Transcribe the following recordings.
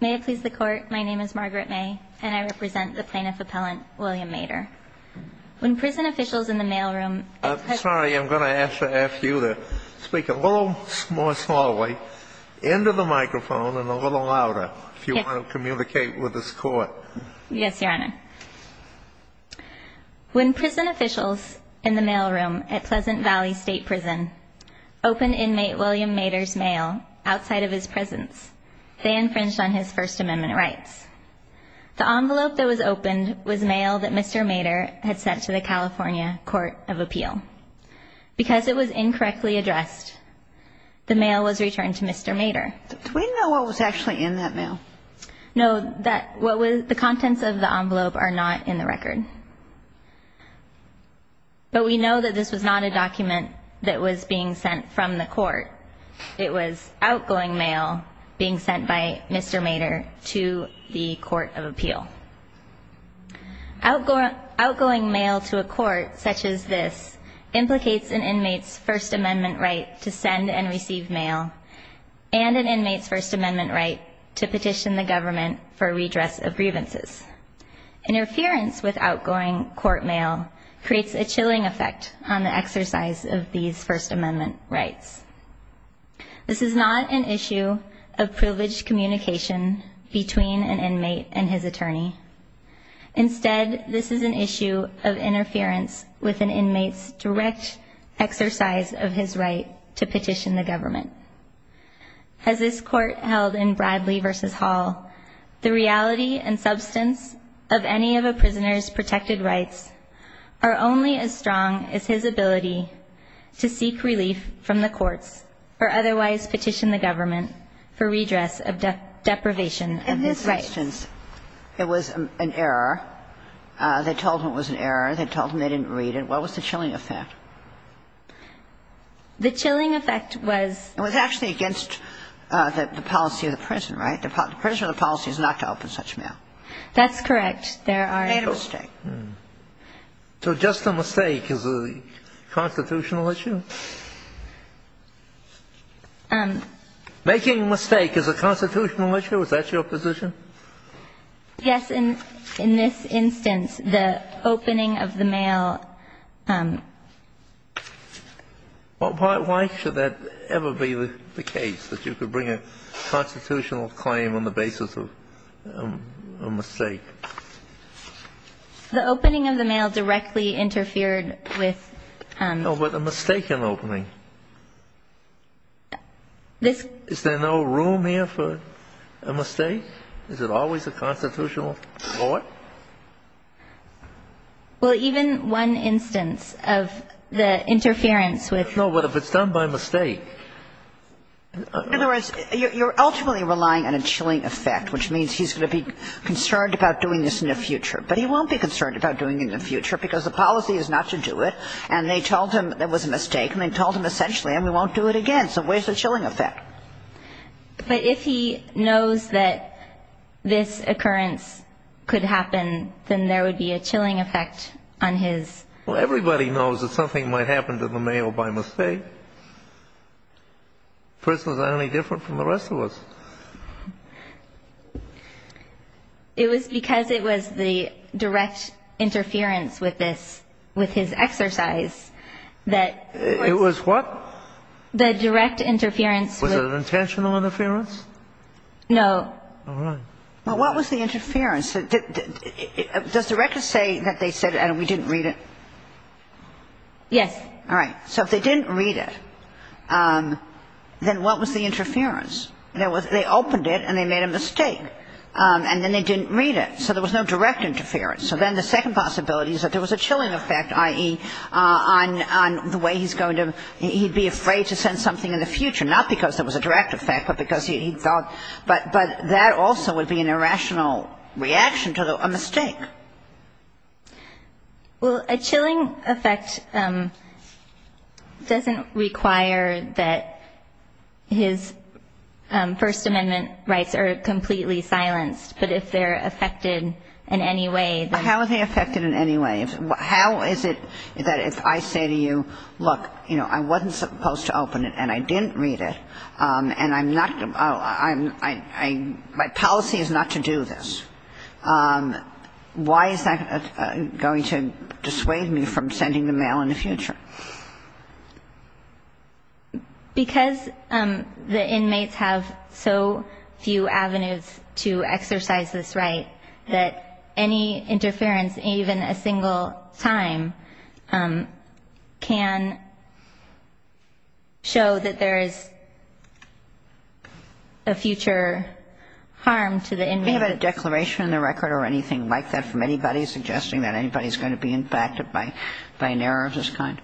May I please the Court, my name is Margaret May and I represent the Plaintiff Appellant William Maedor. When prison officials in the mailroom at Pleasant Valley State Prison I'm sorry, I'm going to ask you to speak a little more slowly into the microphone and a little louder if you want to communicate with this Court. Yes, Your Honor. When prison officials in the mailroom at Pleasant Valley State Prison opened inmate William Maedor's mail outside of his presence, they infringed on his First Amendment rights. The envelope that was opened was mail that Mr. Maedor had sent to the California Court of Appeal. Because it was incorrectly addressed, the mail was returned to Mr. Maedor. No, the contents of the envelope are not in the record. But we know that this was not a document that was being sent from the Court. It was outgoing mail being sent by Mr. Maedor to the Court of Appeal. Outgoing mail to a Court such as this implicates an inmate's First Amendment right to send and receive mail and an inmate's First Amendment right to petition the government for redress of grievances. Interference with outgoing court mail creates a chilling effect on the exercise of these First Amendment rights. This is not an issue of privileged communication between an inmate and his attorney. Instead, this is an issue of interference with an inmate's direct exercise of his right to petition the government. As this Court held in Bradley v. Hall, the reality and substance of any of a prisoner's protected rights are only as strong as his ability to seek relief from the courts or otherwise petition the government for redress of deprivation of his rights. In this instance, it was an error. They told him it was an error. They told him they didn't read it. What was the chilling effect? The chilling effect was the actually against the policy of the prison, right? The prisoner's policy is not to open such mail. That's correct. There are. Made a mistake. So just a mistake is a constitutional issue? Making a mistake is a constitutional issue? Is that your position? Yes. In this instance, the opening of the mail. Why should that ever be the case, that you could bring a constitutional claim on the basis of a mistake? The opening of the mail directly interfered with. No, but a mistake in opening. Is there no room here for a mistake? Is it always a constitutional law? Well, even one instance of the interference with. No, but if it's done by mistake. In other words, you're ultimately relying on a chilling effect, which means he's going to be concerned about doing this in the future. But he won't be concerned about doing it in the future because the policy is not to do it. And they told him it was a mistake. And they told him essentially, and we won't do it again. So where's the chilling effect? But if he knows that this occurrence could happen, then there would be a chilling effect on his. Well, everybody knows that something might happen to the mail by mistake. Prisoners aren't any different from the rest of us. It was because it was the direct interference with this, with his exercise that. It was what? The direct interference. Was it an intentional interference? No. All right. Well, what was the interference? Does the record say that they said, and we didn't read it? Yes. All right. So if they didn't read it, then what was the interference? They opened it and they made a mistake. And then they didn't read it. So there was no direct interference. So then the second possibility is that there was a chilling effect, i.e., on the way he's going to be afraid to send something in the future, not because there was a direct effect but because he thought. Well, a chilling effect doesn't require that his First Amendment rights are completely silenced. But if they're affected in any way, then. How are they affected in any way? How is it that if I say to you, look, you know, I wasn't supposed to open it and I didn't read it, and I'm not going to, my policy is not to do this. Why is that going to dissuade me from sending the mail in the future? Because the inmates have so few avenues to exercise this right that any interference, even a single time, can show that there is a future harm to the inmates. Do we have a declaration in the record or anything like that from anybody suggesting that anybody is going to be impacted by an error of this kind?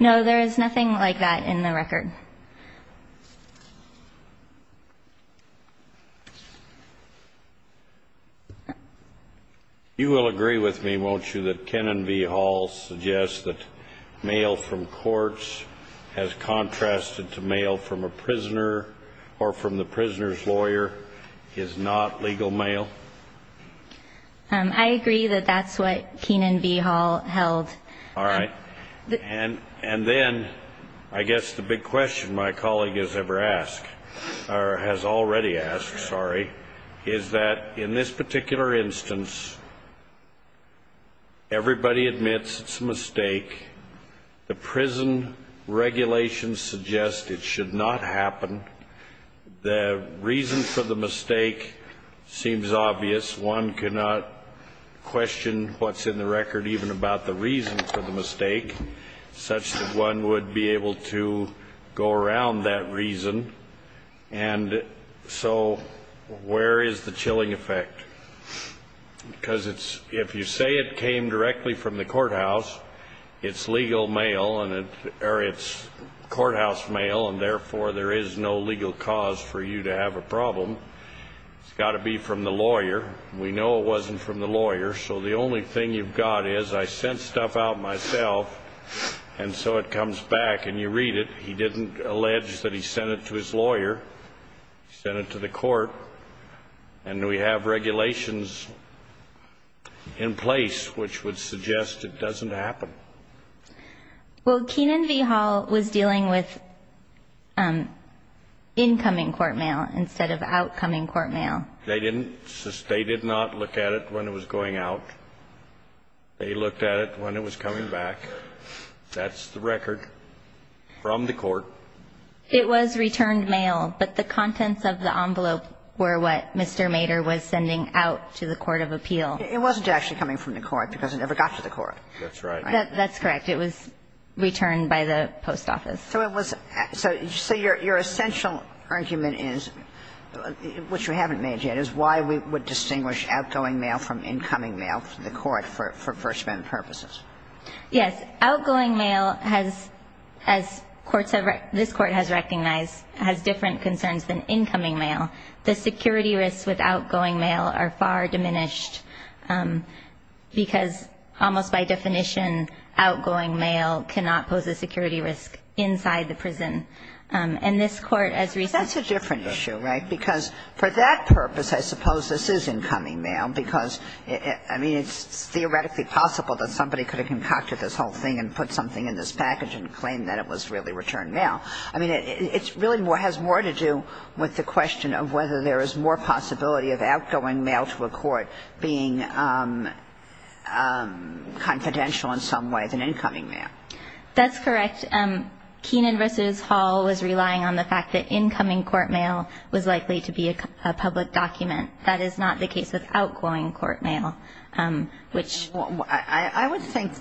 No, there is nothing like that in the record. You will agree with me, won't you, that Kenan v. Hall suggests that mail from courts has contrasted to mail from a prisoner or from the prisoner's lawyer is not legal mail? I agree that that's what Kenan v. Hall held. All right. And then I guess the big question my colleague has ever asked, or has already asked, sorry, is that in this particular instance, everybody admits it's a mistake. The prison regulations suggest it should not happen. The reason for the mistake seems obvious. One cannot question what's in the record even about the reason for the mistake such that one would be able to go around that reason. And so where is the chilling effect? Because if you say it came directly from the courthouse, it's legal mail, or it's courthouse mail, and therefore there is no legal cause for you to have a problem. It's got to be from the lawyer. We know it wasn't from the lawyer, so the only thing you've got is I sent stuff out myself, and so it comes back, and you read it. He didn't allege that he sent it to his lawyer. He sent it to the court, and we have regulations in place which would suggest it doesn't happen. Well, Kenan v. Hall was dealing with incoming court mail instead of outcoming court mail. They didn't. They did not look at it when it was going out. They looked at it when it was coming back. That's the record from the court. It was returned mail, but the contents of the envelope were what Mr. Mader was sending out to the court of appeal. It wasn't actually coming from the court because it never got to the court. That's right. That's correct. It was returned by the post office. So your essential argument is, which we haven't made yet, is why we would distinguish outgoing mail from incoming mail for the court for First Amendment purposes. Yes. Outgoing mail, as this Court has recognized, has different concerns than incoming mail. The security risks with outgoing mail are far diminished, because almost by definition, outgoing mail cannot pose a security risk inside the prison. And this Court, as recently ---- But that's a different issue, right? Because for that purpose, I suppose this is incoming mail, because, I mean, it's theoretically possible that somebody could have concocted this whole thing and put something in this package and claimed that it was really returned mail. I mean, it really has more to do with the question of whether there is more possibility of outgoing mail to a court being confidential in some way than incoming mail. That's correct. Keenan v. Hall was relying on the fact that incoming court mail was likely to be a public document. That is not the case with outgoing court mail, which ---- Well, I would think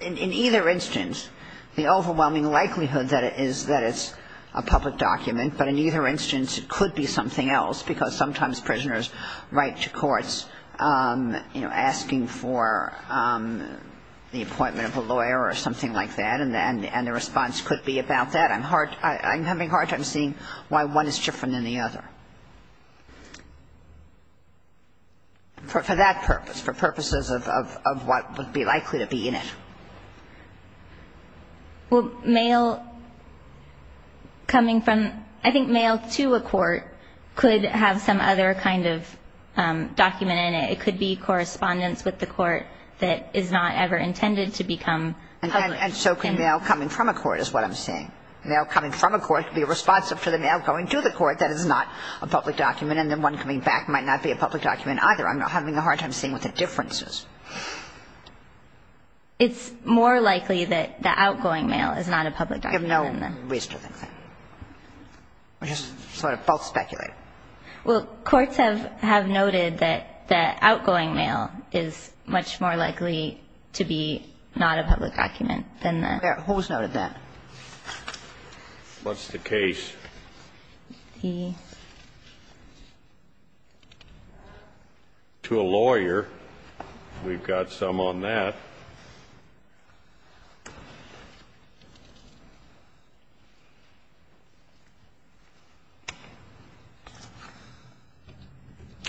in either instance, the overwhelming likelihood that it's a public document, but in either instance, it could be something else, because sometimes prisoners write to courts, you know, asking for the appointment of a lawyer or something like that, and the response could be about that. I'm having a hard time seeing why one is different than the other. For that purpose, for purposes of what would be likely to be in it. Well, mail coming from ---- I think mail to a court could have some other kind of document in it. It could be correspondence with the court that is not ever intended to become public. And so can mail coming from a court is what I'm saying. Mail coming from a court could be responsive to the mail going to the court. That is not a public document. And then one coming back might not be a public document either. I'm having a hard time seeing what the difference is. It's more likely that the outgoing mail is not a public document. You have no reason to think that. We're just sort of both speculating. Well, courts have noted that the outgoing mail is much more likely to be not a public document than the ---- Who has noted that? What's the case? The ---- To a lawyer. We've got some on that.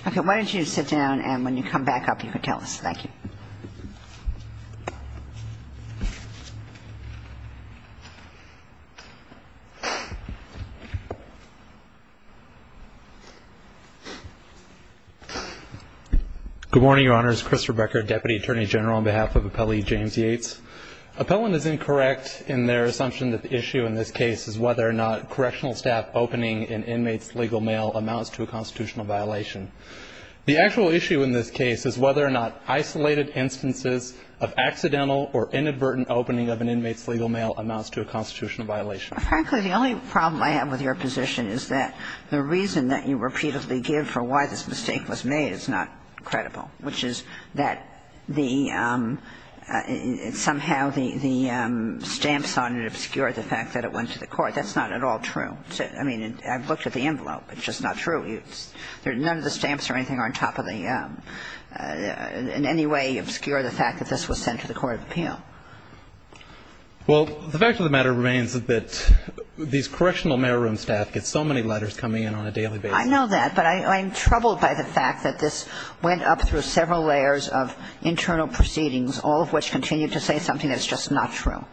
Okay. Why don't you sit down and when you come back up you can tell us. Thank you. Good morning, Your Honors. Chris Rebecker, Deputy Attorney General on behalf of Appellee James Yates. Appellant is incorrect in their assumption that the issue in this case is whether or not correctional staff opening an inmate's legal mail amounts to a constitutional violation. The actual issue in this case is whether or not isolated instances of accidental or inadvertent opening of an inmate's legal mail amounts to a constitutional violation. Frankly, the only problem I have with your position is that the reason that you repeatedly give for why this mistake was made is not credible, which is that the ---- somehow the stamps on it obscure the fact that it went to the court. That's not at all true. I mean, I've looked at the envelope. It's just not true. None of the stamps or anything are on top of the ---- in any way obscure the fact that this was sent to the court of appeal. Well, the fact of the matter remains that these correctional mailroom staff get so many letters coming in on a daily basis. I know that. But I'm troubled by the fact that this went up through several layers of internal proceedings, all of which continue to say something that's just not true.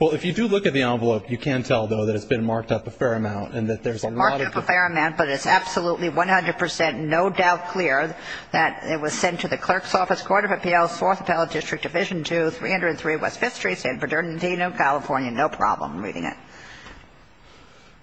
Well, if you do look at the envelope, you can tell, though, that it's been marked up a fair amount and that there's a lot of ---- Marked up a fair amount, but it's absolutely 100 percent no doubt clear that it was sent to the clerk's office, court of appeals, 4th Appellate District, Division 2, 303 West 5th Street, San Bernardino, California. No problem reading it.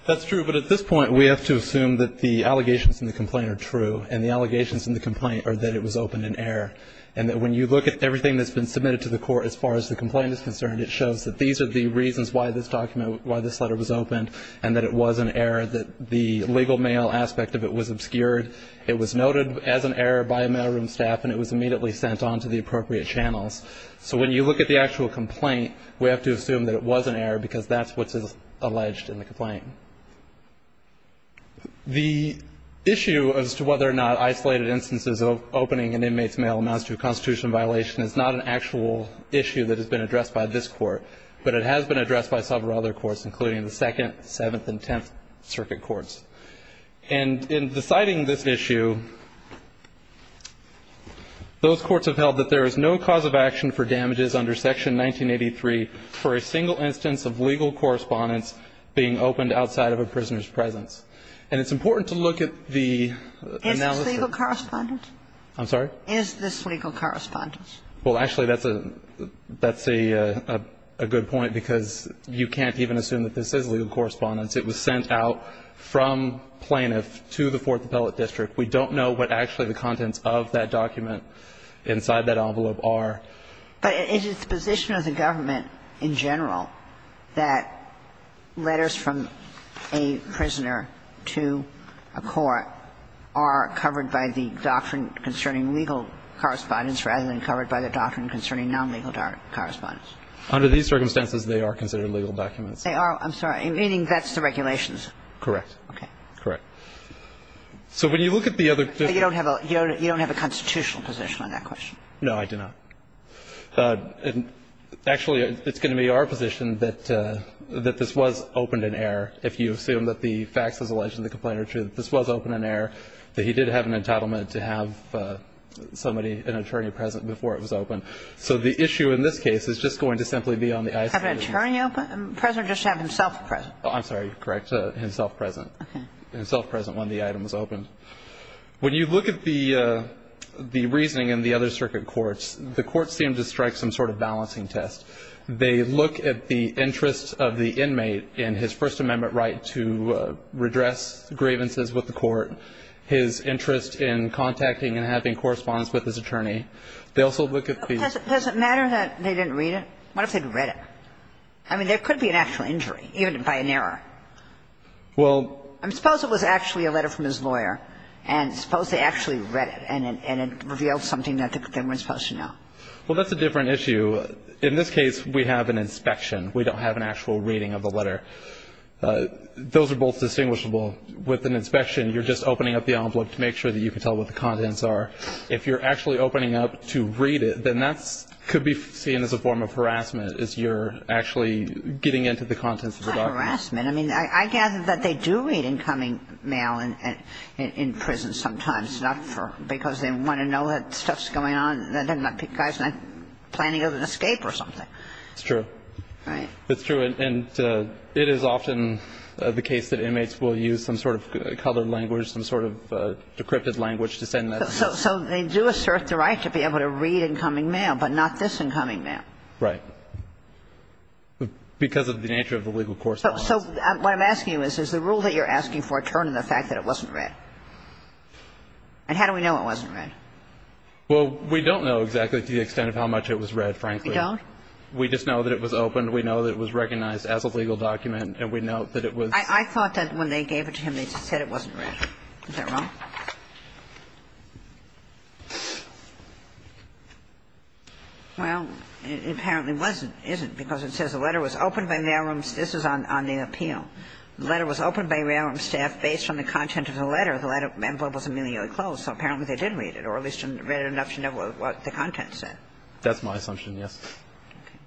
That's true. But at this point, we have to assume that the allegations in the complaint are true, and the allegations in the complaint are that it was opened in error, and that when you look at everything that's been submitted to the court as far as the complaint is concerned, it shows that these are the reasons why this document ---- why this letter was opened, and that it was an error, that the legal mail aspect of it was obscured. It was noted as an error by mailroom staff, and it was immediately sent on to the appropriate channels. So when you look at the actual complaint, we have to assume that it was an error because that's what's alleged in the complaint. The issue as to whether or not isolated instances of opening an inmate's mail amounts to a constitutional violation is not an actual issue that has been addressed by this Court, but it has been addressed by several other courts, including the Second, Seventh, and Tenth Circuit Courts. And in deciding this issue, those courts have held that there is no cause of action for damages under Section 1983 for a single instance of legal correspondence being opened outside of a prisoner's presence. And it's important to look at the analysis ---- Is this legal correspondence? I'm sorry? Is this legal correspondence? Well, actually, that's a good point, because you can't even assume that this is legal correspondence. It was sent out from plaintiff to the Fourth Appellate District. We don't know what actually the contents of that document inside that envelope are. But is it the position of the government in general that letters from a prisoner to a court are covered by the doctrine concerning legal correspondence rather than covered by the doctrine concerning nonlegal correspondence? Under these circumstances, they are considered legal documents. They are? I'm sorry. Meaning that's the regulations? Correct. Okay. Correct. So when you look at the other district ---- You don't have a constitutional position on that question? No, I do not. Actually, it's going to be our position that this was opened in error. If you assume that the facts as alleged in the complaint are true, that this was opened in error, that he did have an entitlement to have somebody, an attorney present before it was opened. So the issue in this case is just going to simply be on the ISD. Have an attorney present or just have himself present? I'm sorry. You're correct. Have himself present. Okay. Himself present when the item was opened. When you look at the reasoning in the other circuit courts, the courts seem to strike some sort of balancing test. They look at the interests of the inmate in his First Amendment right to redress grievances with the court, his interest in contacting and having correspondence with his attorney. They also look at the ---- Does it matter that they didn't read it? I mean, there could be an actual injury, even by an error. Well ---- I suppose it was actually a letter from his lawyer, and suppose they actually read it and it revealed something that they weren't supposed to know. Well, that's a different issue. In this case, we have an inspection. We don't have an actual reading of the letter. Those are both distinguishable. With an inspection, you're just opening up the envelope to make sure that you can tell what the contents are. If you're actually opening up to read it, then that could be seen as a form of harassment as you're actually getting into the contents of the document. Well, it's a form of harassment. I mean, I gather that they do read incoming mail in prison sometimes, not for ---- because they want to know that stuff's going on, that the guy's not planning an escape or something. It's true. Right. It's true. And it is often the case that inmates will use some sort of colored language, some sort of decrypted language to send that mail. So they do assert the right to be able to read incoming mail, but not this incoming mail. Right. But because of the nature of the legal correspondence. So what I'm asking you is, is the rule that you're asking for a turn in the fact that it wasn't read? And how do we know it wasn't read? Well, we don't know exactly to the extent of how much it was read, frankly. You don't? We just know that it was open. We know that it was recognized as a legal document. And we know that it was ---- I thought that when they gave it to him, they just said it wasn't read. Is that wrong? Well, it apparently wasn't, isn't, because it says the letter was opened by mailrooms ---- this is on the appeal. The letter was opened by mailroom staff based on the content of the letter. The letter was immediately closed. So apparently they didn't read it or at least didn't read enough to know what the content said. That's my assumption, yes. Okay.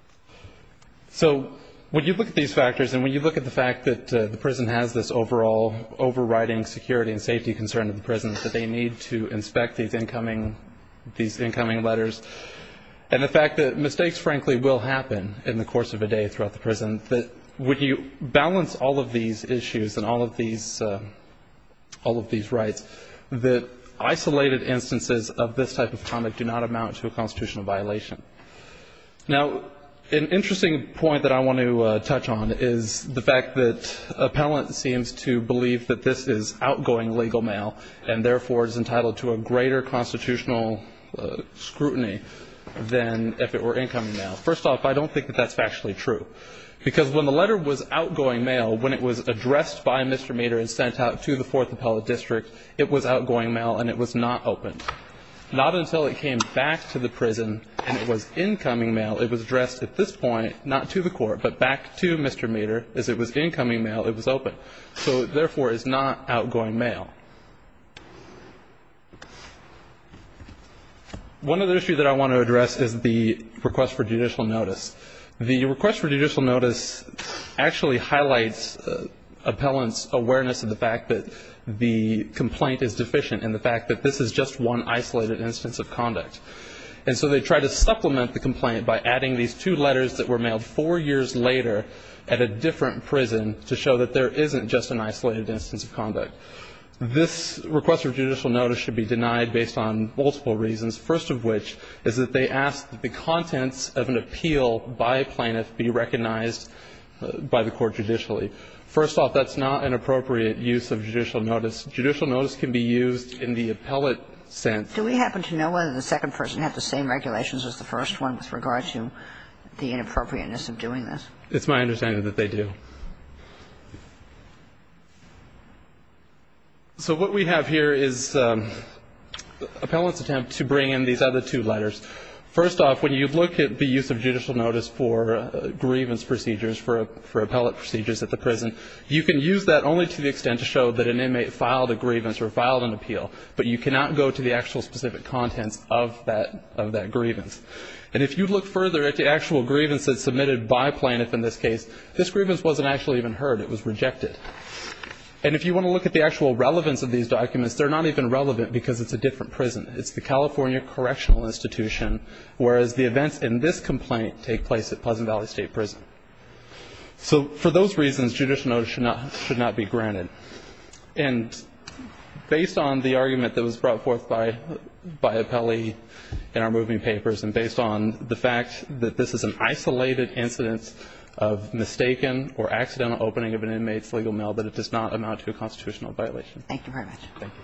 So when you look at these factors and when you look at the fact that the prison has this overall overriding security and safety concern of the prison, that they need to inspect these incoming letters, and the fact that mistakes, frankly, will happen in the course of a day throughout the prison, that when you balance all of these issues and all of these rights, that isolated instances of this type of conduct do not amount to a constitutional violation. Now, an interesting point that I want to touch on is the fact that appellant seems to believe that this is outgoing legal mail and, therefore, is entitled to a greater constitutional scrutiny than if it were incoming mail. First off, I don't think that that's factually true, because when the letter was outgoing mail, when it was addressed by Mr. Meador and sent out to the Fourth Appellate District, it was outgoing mail and it was not opened, not until it came back to the prison and it was incoming mail. It was addressed at this point, not to the court, but back to Mr. Meador. As it was incoming mail, it was open. So, therefore, it's not outgoing mail. One other issue that I want to address is the request for judicial notice. The request for judicial notice actually highlights appellant's awareness of the fact that the complaint is deficient and the fact that this is just one isolated instance of conduct. And so they try to supplement the complaint by adding these two letters that were mailed four years later at a different prison to show that there isn't just an isolated instance of conduct. This request for judicial notice should be denied based on multiple reasons, first of which is that they ask that the contents of an appeal by a plaintiff be recognized by the court judicially. First off, that's not an appropriate use of judicial notice. Judicial notice can be used in the appellate sense. Do we happen to know whether the second person had the same regulations as the first one with regard to the inappropriateness of doing this? It's my understanding that they do. So what we have here is appellant's attempt to bring in these other two letters. First off, when you look at the use of judicial notice for grievance procedures for appellate procedures at the prison, you can use that only to the extent to show that an inmate filed a grievance or filed an appeal, but you cannot go to the actual specific contents of that grievance. And if you look further at the actual grievance that's submitted by a plaintiff in this case, this grievance wasn't actually even heard. It was rejected. And if you want to look at the actual relevance of these documents, they're not even relevant because it's a different prison. It's the California Correctional Institution, whereas the events in this complaint take place at Pleasant Valley State Prison. So for those reasons, judicial notice should not be granted. And based on the argument that was brought forth by Appelli in our moving papers and based on the fact that this is an isolated incidence of mistaken or accidental opening of an inmate's legal mail, that it does not amount to a constitutional Thank you very much. Thank you.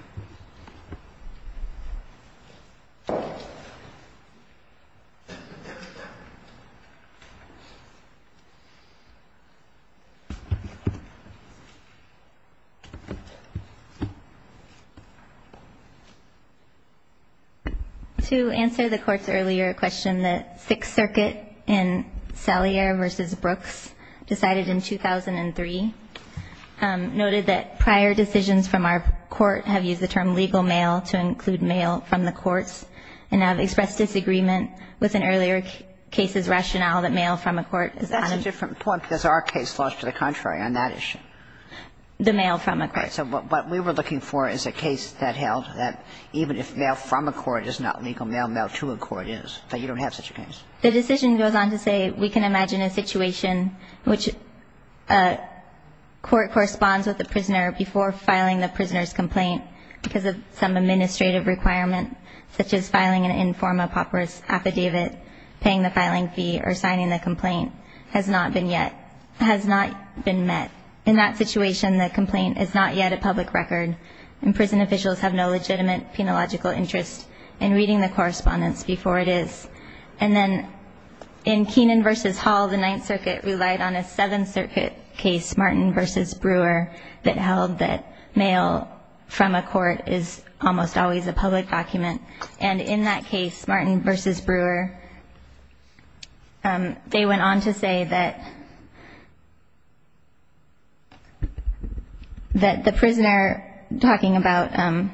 To answer the court's earlier question, the Sixth Circuit in Salyer v. Brooks decided in 2003, noted that prior decisions from our court have used the term legal mail to include mail from the courts, and have expressed disagreement with an earlier case's rationale that mail from a court is unlawful. That's a different point because our case lost to the contrary on that issue. The mail from a court. Right. So what we were looking for is a case that held that even if mail from a court is not legal mail, mail to a court is, that you don't have such a case. The decision goes on to say we can imagine a situation in which a court corresponds with a prisoner before filing the prisoner's complaint because of some administrative requirement, such as filing an informa pauperis affidavit, paying the filing fee, or signing the complaint, has not been met. In that situation, the complaint is not yet a public record, and prison officials have no legitimate penological interest in reading the correspondence before it is. And then in Keenan v. Hall, the Ninth Circuit relied on a Seventh Circuit case, Martin v. Brewer, that held that mail from a court is almost always a public document. And in that case, Martin v. Brewer, they went on to say that the prisoner, talking about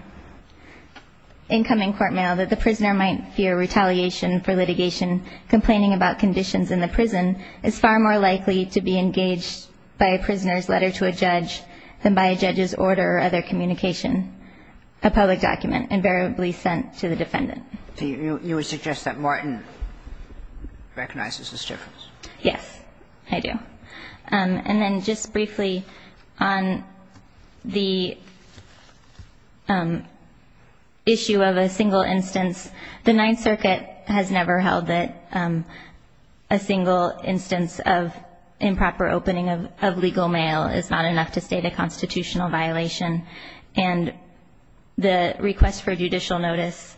incoming court mail, that the prisoner might fear retaliation for litigation. Complaining about conditions in the prison is far more likely to be engaged by a prisoner's letter to a judge than by a judge's order or other communication. A public document invariably sent to the defendant. So you would suggest that Martin recognizes this difference? Yes, I do. And then just briefly on the issue of a single instance, the Ninth Circuit has never held that a single instance of improper opening of legal mail is not enough to state a constitutional violation. And the request for judicial notice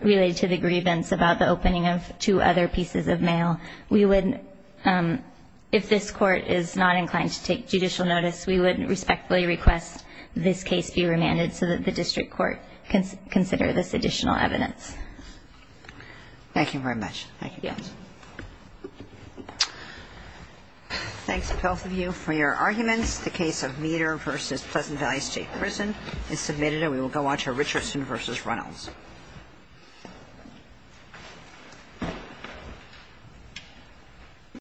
related to the grievance about the opening of two other pieces of mail, we would, if this Court is not inclined to take judicial notice, we would respectfully request this case be remanded so that the district court can consider this additional evidence. Thank you very much. Thank you. Yes. Thanks to both of you for your arguments. The case of Meter v. Pleasant Valley State Prison is submitted, and we will go on